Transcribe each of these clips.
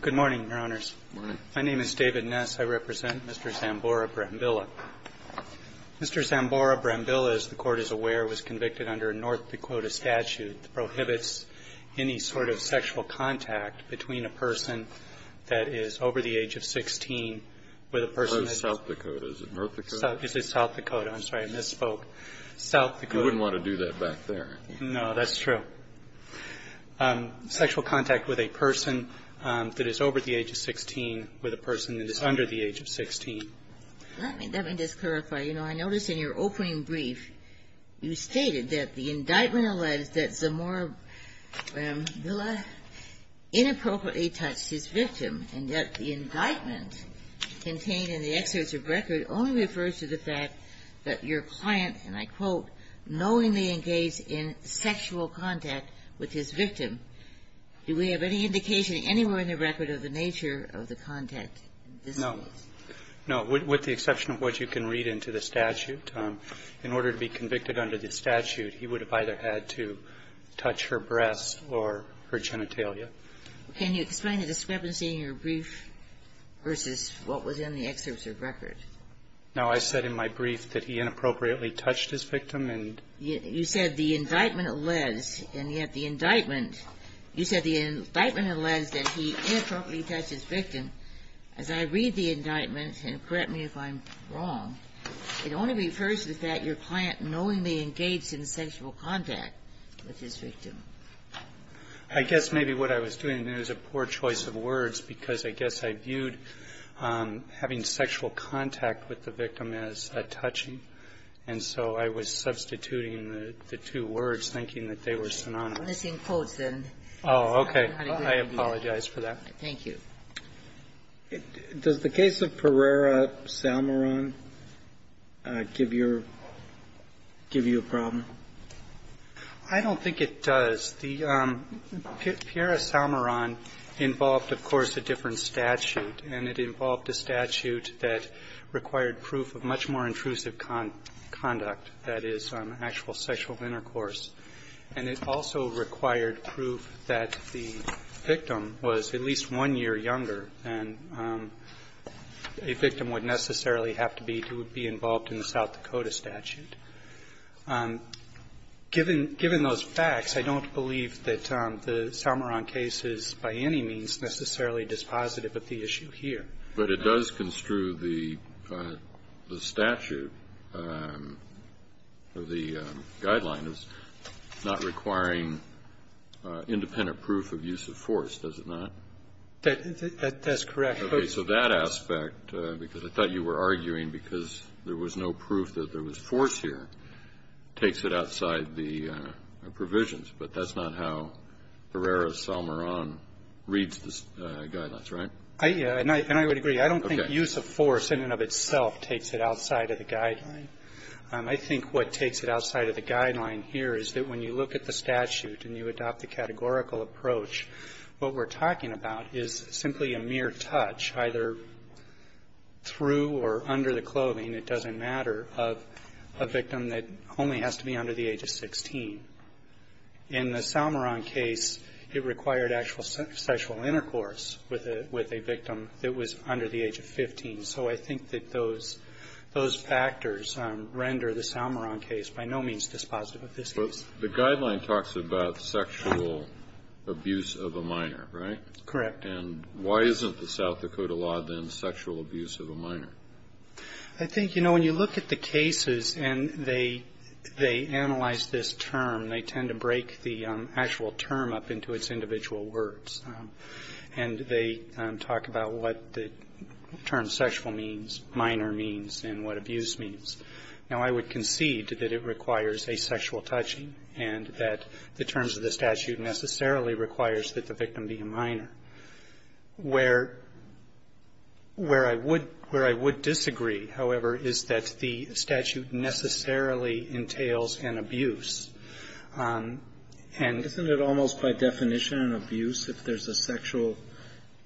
Good morning, Your Honors. Good morning. My name is David Ness. I represent Mr. Zamora-Brambila. Mr. Zamora-Brambila, as the Court is aware, was convicted under a North Dakota statute that prohibits any sort of sexual contact between a person that is over the age of 16 with a person that is — South Dakota. Is it North Dakota? Is it South Dakota? I'm sorry. I misspoke. South Dakota — You wouldn't want to do that back there, I think. No, that's true. Sexual contact with a person that is over the age of 16 with a person that is under the age of 16. Let me just clarify. You know, I noticed in your opening brief, you stated that the indictment alleged that Zamora-Brambila inappropriately touched his victim, and that the indictment contained in the exerts of record only refers to the fact that your client, and I quote, knowingly engaged in sexual contact with his victim. Do we have any indication anywhere in the record of the nature of the contact in this case? No. No, with the exception of what you can read into the statute. In order to be convicted under the statute, he would have either had to touch her breasts or her genitalia. Can you explain the discrepancy in your brief versus what was in the excerpts of record? No, I said in my brief that he inappropriately touched his victim, and you said the indictment alleged, and yet the indictment, you said the indictment alleged that he inappropriately touched his victim. As I read the indictment, and correct me if I'm wrong, it only refers to the fact your client knowingly engaged in sexual contact with his victim. I guess maybe what I was doing, and it was a poor choice of words, because I guess I viewed having sexual contact with the victim as a touching, and so I was substituting the two words, thinking that they were synonymous. Let me see in quotes, then. Oh, okay. I apologize for that. Thank you. Does the case of Pereira-Salmaron give you a problem? I don't think it does. The Pereira-Salmaron involved, of course, a different statute, and it involved a statute that required proof of much more intrusive conduct, that is, actual sexual intercourse. And it also required proof that the victim was at least one year younger than a victim would necessarily have to be who would be involved in the South Dakota statute. Given those facts, I don't believe that the Salmaron case is by any means necessarily dispositive of the issue here. But it does construe the statute or the guideline as not requiring independent proof of use of force, does it not? That's correct. Okay. So that aspect, because I thought you were arguing because there was no proof that there was force here, takes it outside the provisions. But that's not how Pereira-Salmaron reads the guidelines, right? Yeah, and I would agree. I don't think use of force in and of itself takes it outside of the guideline. I think what takes it outside of the guideline here is that when you look at the statute and you adopt the categorical approach, what we're talking about is simply a mere touch, either through or under the clothing, it doesn't matter, of a victim that only has to be under the age of 16. In the Salmaron case, it required actual sexual intercourse with a victim that was under the age of 15. So I think that those factors render the Salmaron case by no means dispositive of this case. But the guideline talks about sexual abuse of a minor, right? Correct. And why isn't the South Dakota law, then, sexual abuse of a minor? I think, you know, when you look at the cases and they analyze this term, they tend to break the actual term up into its individual words. And they talk about what the term sexual means, minor means, and what abuse means. Now, I would concede that it requires asexual touching and that the terms of the statute necessarily requires that the victim be a minor. Where I would disagree, however, is that the statute necessarily entails an abuse. And the law requires that the victim be a minor. Isn't it almost by definition an abuse if there's a sexual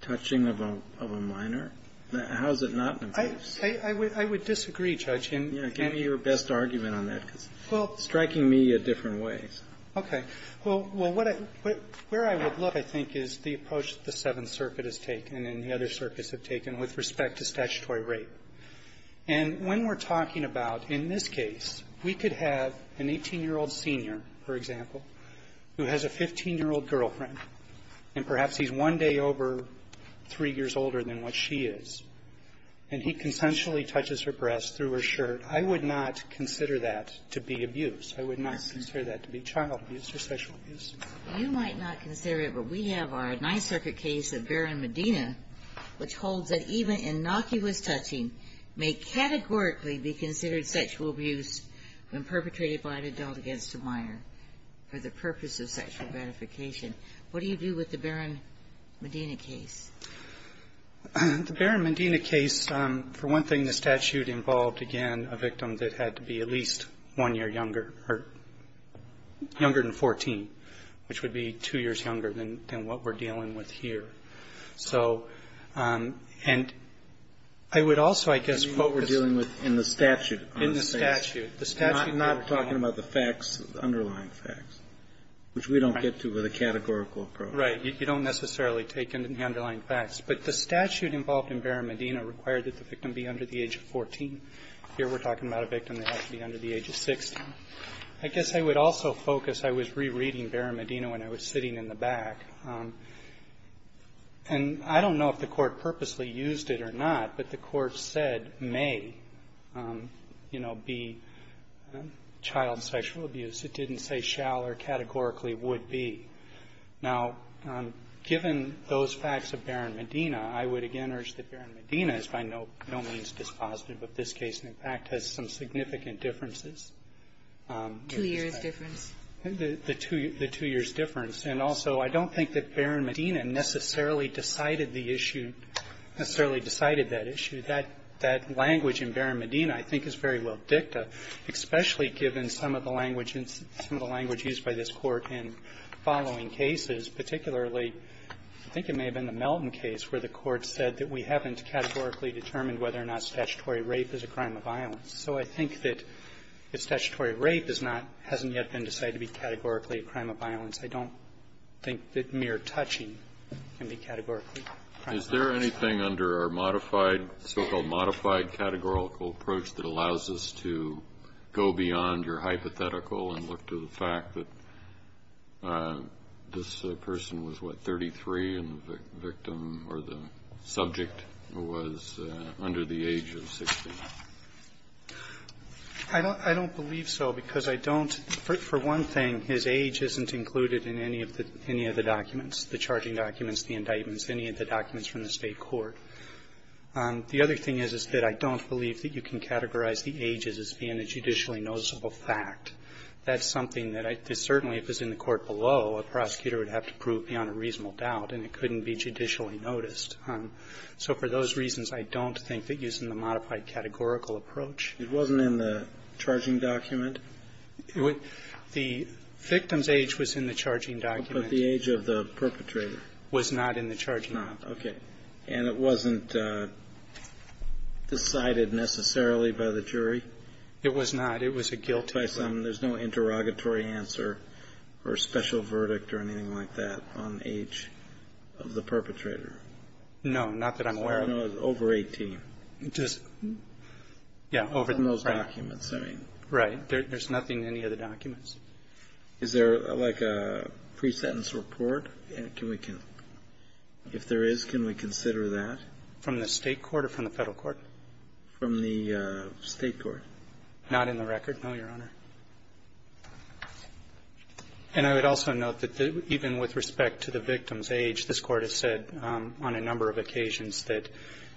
touching of a minor? How is it not an abuse? I would disagree, Judge. Give me your best argument on that, because it's striking me at different ways. Okay. Well, what I – where I would look, I think, is the approach that the Seventh Circuit has taken and the other circuits have taken with respect to statutory rape. And when we're talking about, in this case, we could have an 18-year-old senior, for example, who has a 15-year-old girlfriend, and perhaps he's one day over three years older than what she is, and he consensually touches her breast through her shirt, I would not consider that to be abuse. I would not consider that to be a criminal abuse or sexual abuse. You might not consider it, but we have our Ninth Circuit case of Barron-Medina, which holds that even innocuous touching may categorically be considered sexual abuse when perpetrated by an adult against a minor for the purpose of sexual gratification. What do you do with the Barron-Medina case? The Barron-Medina case, for one thing, the statute involved, again, a victim that had to be at least one year younger hurt. Younger than 14, which would be two years younger than what we're dealing with here. So, and I would also, I guess, what we're dealing with in the statute. In the statute. The statute, not talking about the facts, the underlying facts, which we don't get to with a categorical approach. Right. You don't necessarily take in the underlying facts. But the statute involved in Barron-Medina required that the victim be under the age of 14. Here we're talking about a victim that had to be under the age of 16. I guess I would also focus, I was rereading Barron-Medina when I was sitting in the back, and I don't know if the Court purposely used it or not. But the Court said may, you know, be child sexual abuse. It didn't say shall or categorically would be. Now, given those facts of Barron-Medina, I would again urge that Barron-Medina is by no means dispositive of this case. In fact, it has some significant differences. Two years' difference. The two years' difference. And also, I don't think that Barron-Medina necessarily decided the issue, necessarily decided that issue. That language in Barron-Medina, I think, is very well dicta, especially given some of the language used by this Court in following cases, particularly, I think it may have been the Melton case, where the Court said that we haven't categorically determined whether or not statutory rape is a crime of violence. So I think that if statutory rape is not, hasn't yet been decided to be categorically a crime of violence, I don't think that mere touching can be categorically a crime of violence. Kennedy. Is there anything under our modified, so-called modified categorical approach that allows us to go beyond your hypothetical and look to the fact that this person was, what, 33, and the victim or the subject was under the age of 60? I don't believe so, because I don't for one thing, his age isn't included in any of the documents, the charging documents, the indictments, any of the documents from the State court. The other thing is, is that I don't believe that you can categorize the age as being a judicially noticeable fact. That's something that I, certainly, if it's in the court below, a prosecutor would have to prove beyond a reasonable doubt, and it couldn't be judicially noticed. So for those reasons, I don't think that using the modified categorical approach. It wasn't in the charging document? The victim's age was in the charging document. But the age of the perpetrator? Was not in the charging document. Not. Okay. And it wasn't decided necessarily by the jury? It was not. It was a guilty verdict. If I sum, there's no interrogatory answer, or special verdict, or anything like that, on age of the perpetrator? No, not that I'm aware of. So I don't know, over 18? Just, yeah, over the most documents, I mean. Right. There's nothing in any of the documents. Is there, like, a pre-sentence report? Can we can, if there is, can we consider that? From the State court or from the Federal court? From the State court. Not in the record, no, Your Honor. And I would also note that even with respect to the victim's age, this Court has said on a number of occasions that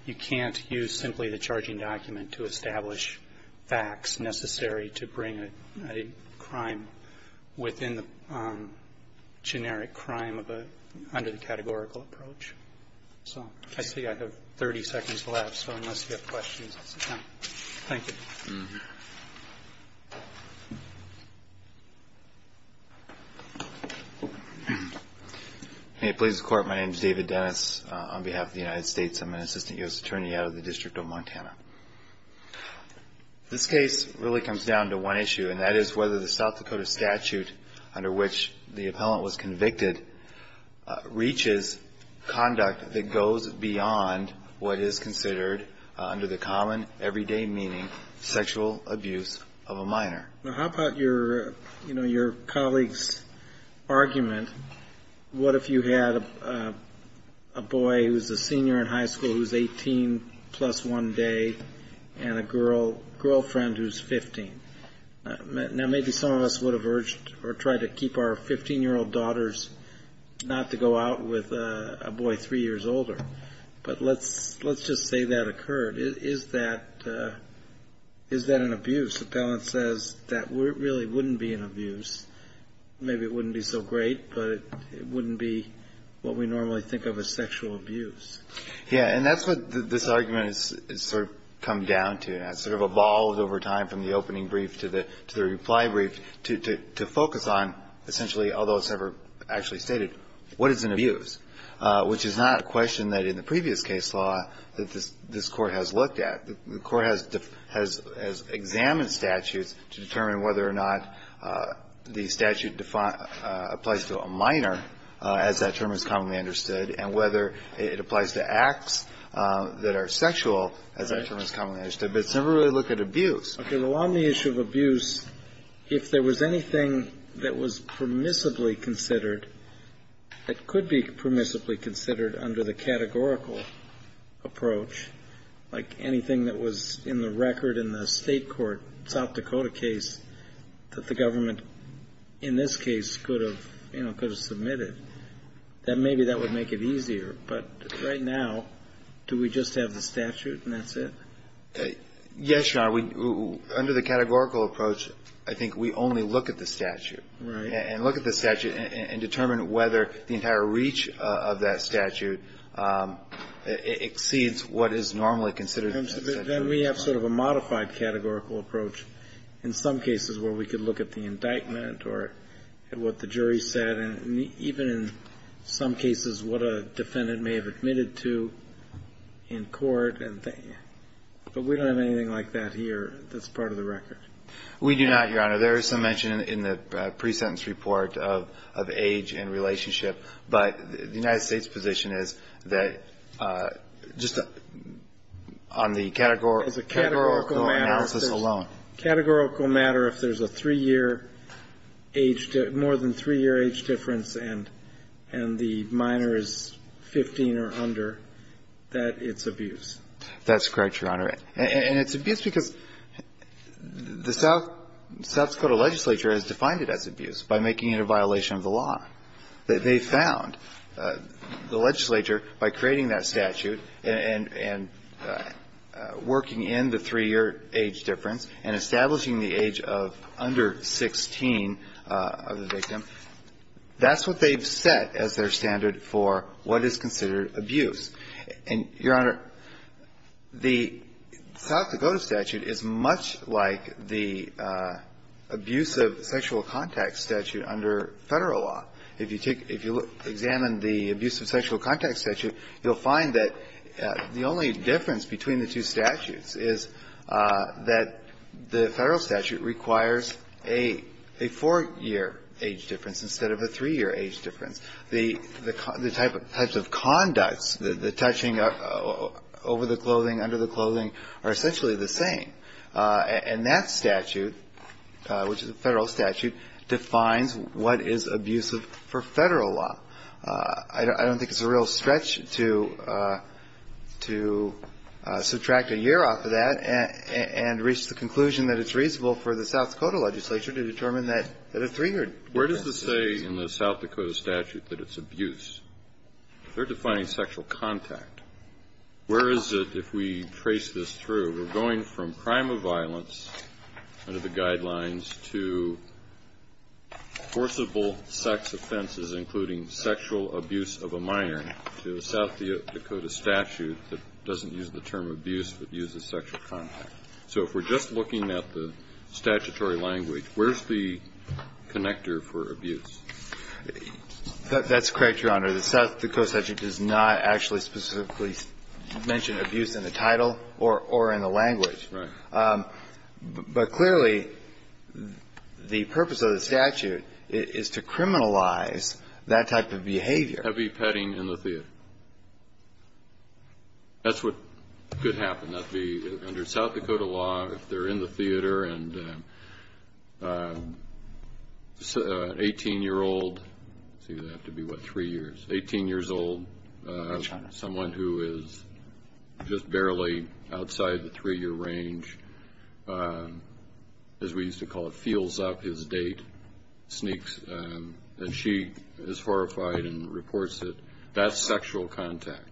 you can't use simply the charging document to establish facts necessary to bring a crime within the generic crime of a, under the categorical approach. So I see I have 30 seconds left, so unless you have questions, it's a time. Thank you. Mm-hmm. May it please the Court, my name is David Dennis, on behalf of the United States. I'm an Assistant U.S. Attorney out of the District of Montana. This case really comes down to one issue, and that is whether the South Dakota statute under which the appellant was convicted reaches conduct that goes beyond what is considered, under the common everyday meaning, sexual abuse of a minor. Now, how about your, you know, your colleague's argument, what if you had a, a boy who's a senior in high school who's 18 plus one day and a girl, girlfriend who's 15, now maybe some of us would have urged or tried to keep our 15-year-old daughters not to go out with a boy three years older. But let's, let's just say that occurred. Is, is that, is that an abuse? Appellant says that really wouldn't be an abuse. Maybe it wouldn't be so great, but it wouldn't be what we normally think of as sexual abuse. Yeah, and that's what this argument has sort of come down to. And it's sort of evolved over time from the opening brief to the, to the reply brief to, to, to focus on, essentially, although it's never actually stated, what is an abuse, which is not a question that in the previous case law that this, this Court has looked at. The Court has, has, has examined statutes to determine whether or not the statute defines, applies to a minor, as that term is commonly understood, and whether it applies to acts that are sexual, as that term is commonly understood. But it's never really looked at abuse. Okay. Well, on the issue of abuse, if there was anything that was permissibly considered, that could be permissibly considered under the categorical approach, like anything that was in the record in the State Court, South Dakota case, that the government, in this case, could have, you know, could have submitted, that maybe that would make it easier. But right now, do we just have the statute and that's it? Yes, Your Honor. Under the categorical approach, I think we only look at the statute. Right. And look at the statute and, and determine whether the entire reach of, of that statute exceeds what is normally considered. In terms of it, then we have sort of a modified categorical approach in some cases where we could look at the indictment or at what the jury said, and even in some cases, what a defendant may have admitted to in court. But we don't have anything like that here that's part of the record. We do not, Your Honor. There is some mention in the pre-sentence report of, of age and relationship. But the United States position is that just on the categorical analysis alone. As a categorical matter, if there's a three-year age, more than three-year age difference and, and the minor is 15 or under, that it's abuse. That's correct, Your Honor. And, and it's abuse because the South, South Dakota legislature has defined it as abuse by making it a violation of the law. That they found the legislature by creating that statute and, and working in the three-year age difference and establishing the age of under 16 of the victim, that's what they've set as their standard for what is considered abuse. And, Your Honor, the South Dakota statute is much like the abuse of sexual contact statute under Federal law. If you take, if you examine the abuse of sexual contact statute, you'll find that the only difference between the two statutes is that the Federal statute requires a, a four-year age difference instead of a three-year age difference. The, the, the type of, types of conducts, the, the touching over the clothing, under the clothing, are essentially the same. And that statute, which is a Federal statute, defines what is abusive for Federal law. I don't, I don't think it's a real stretch to, to subtract a year off of that and, and reach the conclusion that it's reasonable for the South Dakota legislature to determine that, that a three-year difference is reasonable. In the South Dakota statute, that it's abuse. They're defining sexual contact. Where is it, if we trace this through, we're going from crime of violence under the guidelines to forcible sex offenses, including sexual abuse of a minor, to a South Dakota statute that doesn't use the term abuse, but uses sexual contact. So if we're just looking at the statutory language, where's the connector for abuse? That, that's correct, Your Honor. The South Dakota statute does not actually specifically mention abuse in the title or, or in the language. Right. But, but clearly, the purpose of the statute is, is to criminalize that type of behavior. Heavy petting in the theater. That's what could happen. That'd be, under South Dakota law, if they're in the theater and, an 18-year-old see, that'd have to be what, three years, 18-years-old, someone who is just barely outside the three-year range, as we used to call it, feels up his date, sneaks. And she is horrified and reports it. That's sexual contact.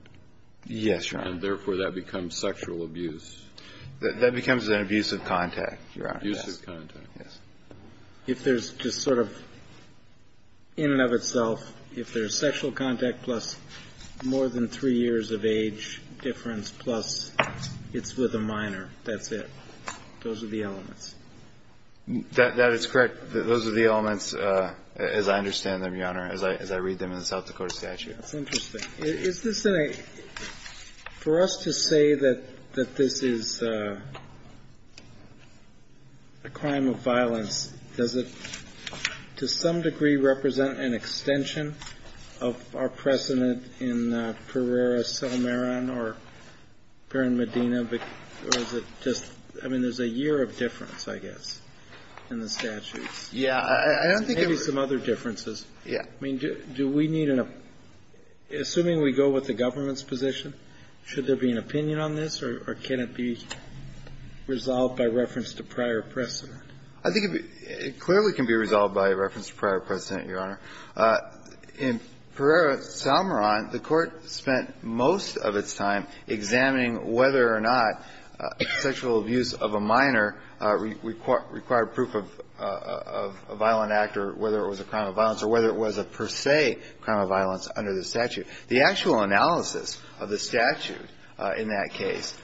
Yes, Your Honor. And therefore, that becomes sexual abuse. That, that becomes an abusive contact, Your Honor. Abusive contact. Yes. If there's just sort of, in and of itself, if there's sexual contact plus more than three years of age difference, plus it's with a minor, that's it. Those are the elements. That, that is correct. Those are the elements as I understand them, Your Honor, as I, as I read them in the South Dakota statute. That's interesting. Is this in a, for us to say that, that this is a, a crime of violence, does it, to some degree, represent an extension of our precedent in Pereira-Salmeron or Peron-Medina? Or is it just, I mean, there's a year of difference, I guess, in the statutes. Yeah, I, I don't think it would. Maybe some other differences. Yeah. I mean, do, do we need an, assuming we go with the government's position, should there be an opinion on this? Or, or can it be resolved by reference to prior precedent? I think it, it clearly can be resolved by reference to prior precedent, Your Honor. In Pereira-Salmeron, the Court spent most of its time examining whether or not sexual abuse of a minor required, required proof of, of a violent act or whether it was a crime of violence or whether it was a per se crime of violence under the statute. The actual analysis of the statute in that case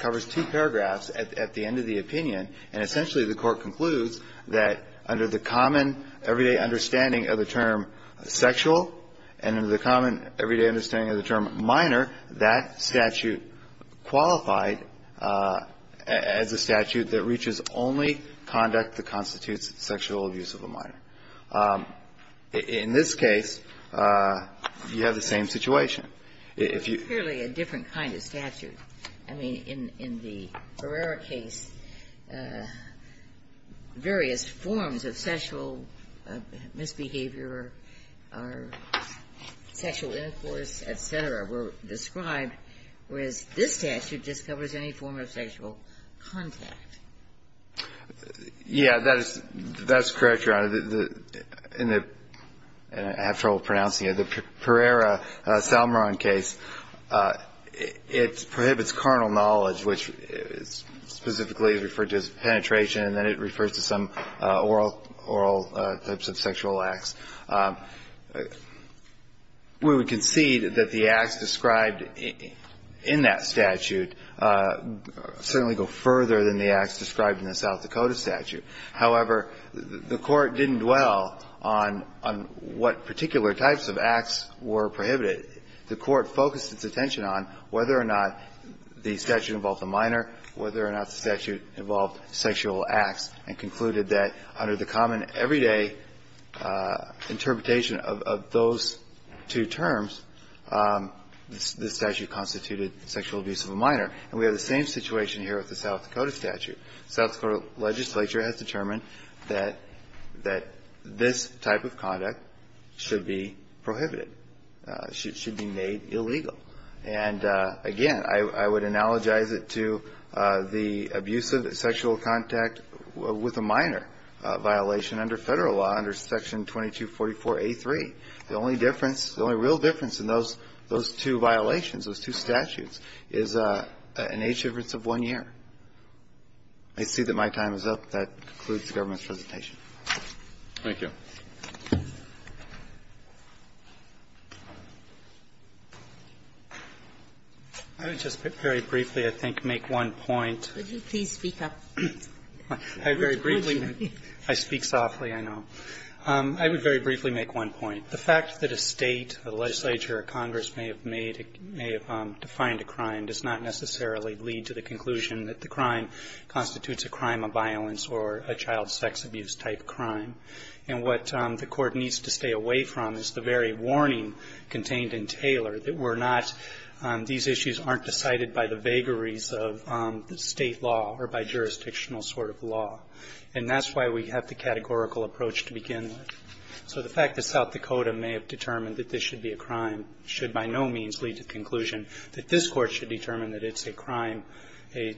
covers two paragraphs at, at the end of the opinion. And essentially, the court concludes that under the common everyday understanding of the term sexual, and under the common everyday understanding of the term minor, that statute qualified as a statute that reaches only conduct that constitutes sexual abuse of a minor. In this case, you have the same situation. If you- It's clearly a different kind of statute. I mean, in, in the Pereira case, various forms of sexual misbehavior or sexual intercourse, et cetera, were described, whereas this statute just covers any form of sexual contact. In the, in the, and I have trouble pronouncing it, the Pereira-Salmeron case, it, it prohibits carnal knowledge, which is specifically referred to as penetration, and then it refers to some oral, oral types of sexual acts. We would concede that the acts described in that statute certainly go further than the acts described in the South Dakota statute. However, the Court didn't dwell on, on what particular types of acts were prohibited. The Court focused its attention on whether or not the statute involved the minor, whether or not the statute involved sexual acts, and concluded that under the common everyday interpretation of, of those two terms, this, this statute constituted sexual abuse of a minor. And we have the same situation here with the South Dakota statute. South Dakota legislature has determined that, that this type of conduct should be prohibited. Should, should be made illegal. And again, I, I would analogize it to the abuse of sexual contact with a minor violation under federal law, under section 2244A3. The only difference, the only real difference in those, those two violations, those two statutes, is an age difference of one year. I see that my time is up. That concludes the government's presentation. Roberts. Thank you. I would just very briefly, I think, make one point. Could you please speak up? I very briefly, I speak softly, I know. I would very briefly make one point. The fact that a State, a legislature, a Congress may have made, may have defined a crime does not necessarily lead to the conclusion that the crime constitutes a crime of violence or a child sex abuse type crime. And what the court needs to stay away from is the very warning contained in Taylor that we're not, these issues aren't decided by the vagaries of the State law or by jurisdictional sort of law. And that's why we have the categorical approach to begin with. So the fact that South Dakota may have determined that this should be a crime should by no means lead to the conclusion that this Court should determine that it's a crime, a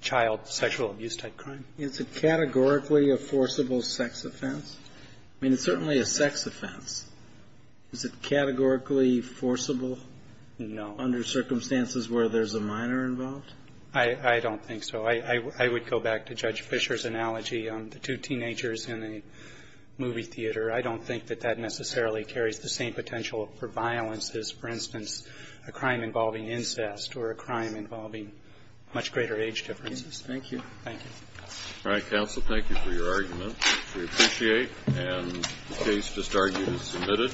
child sexual abuse type crime. It's a categorically a forcible sex offense? I mean, it's certainly a sex offense. Is it categorically forcible? No. Under circumstances where there's a minor involved? I don't think so. I would go back to Judge Fischer's analogy on the two teenagers in a movie theater. I don't think that that necessarily carries the same potential for violence as, for instance, a crime involving incest or a crime involving much greater age differences. Thank you. Thank you. All right, counsel, thank you for your argument. We appreciate and the case just argued is submitted.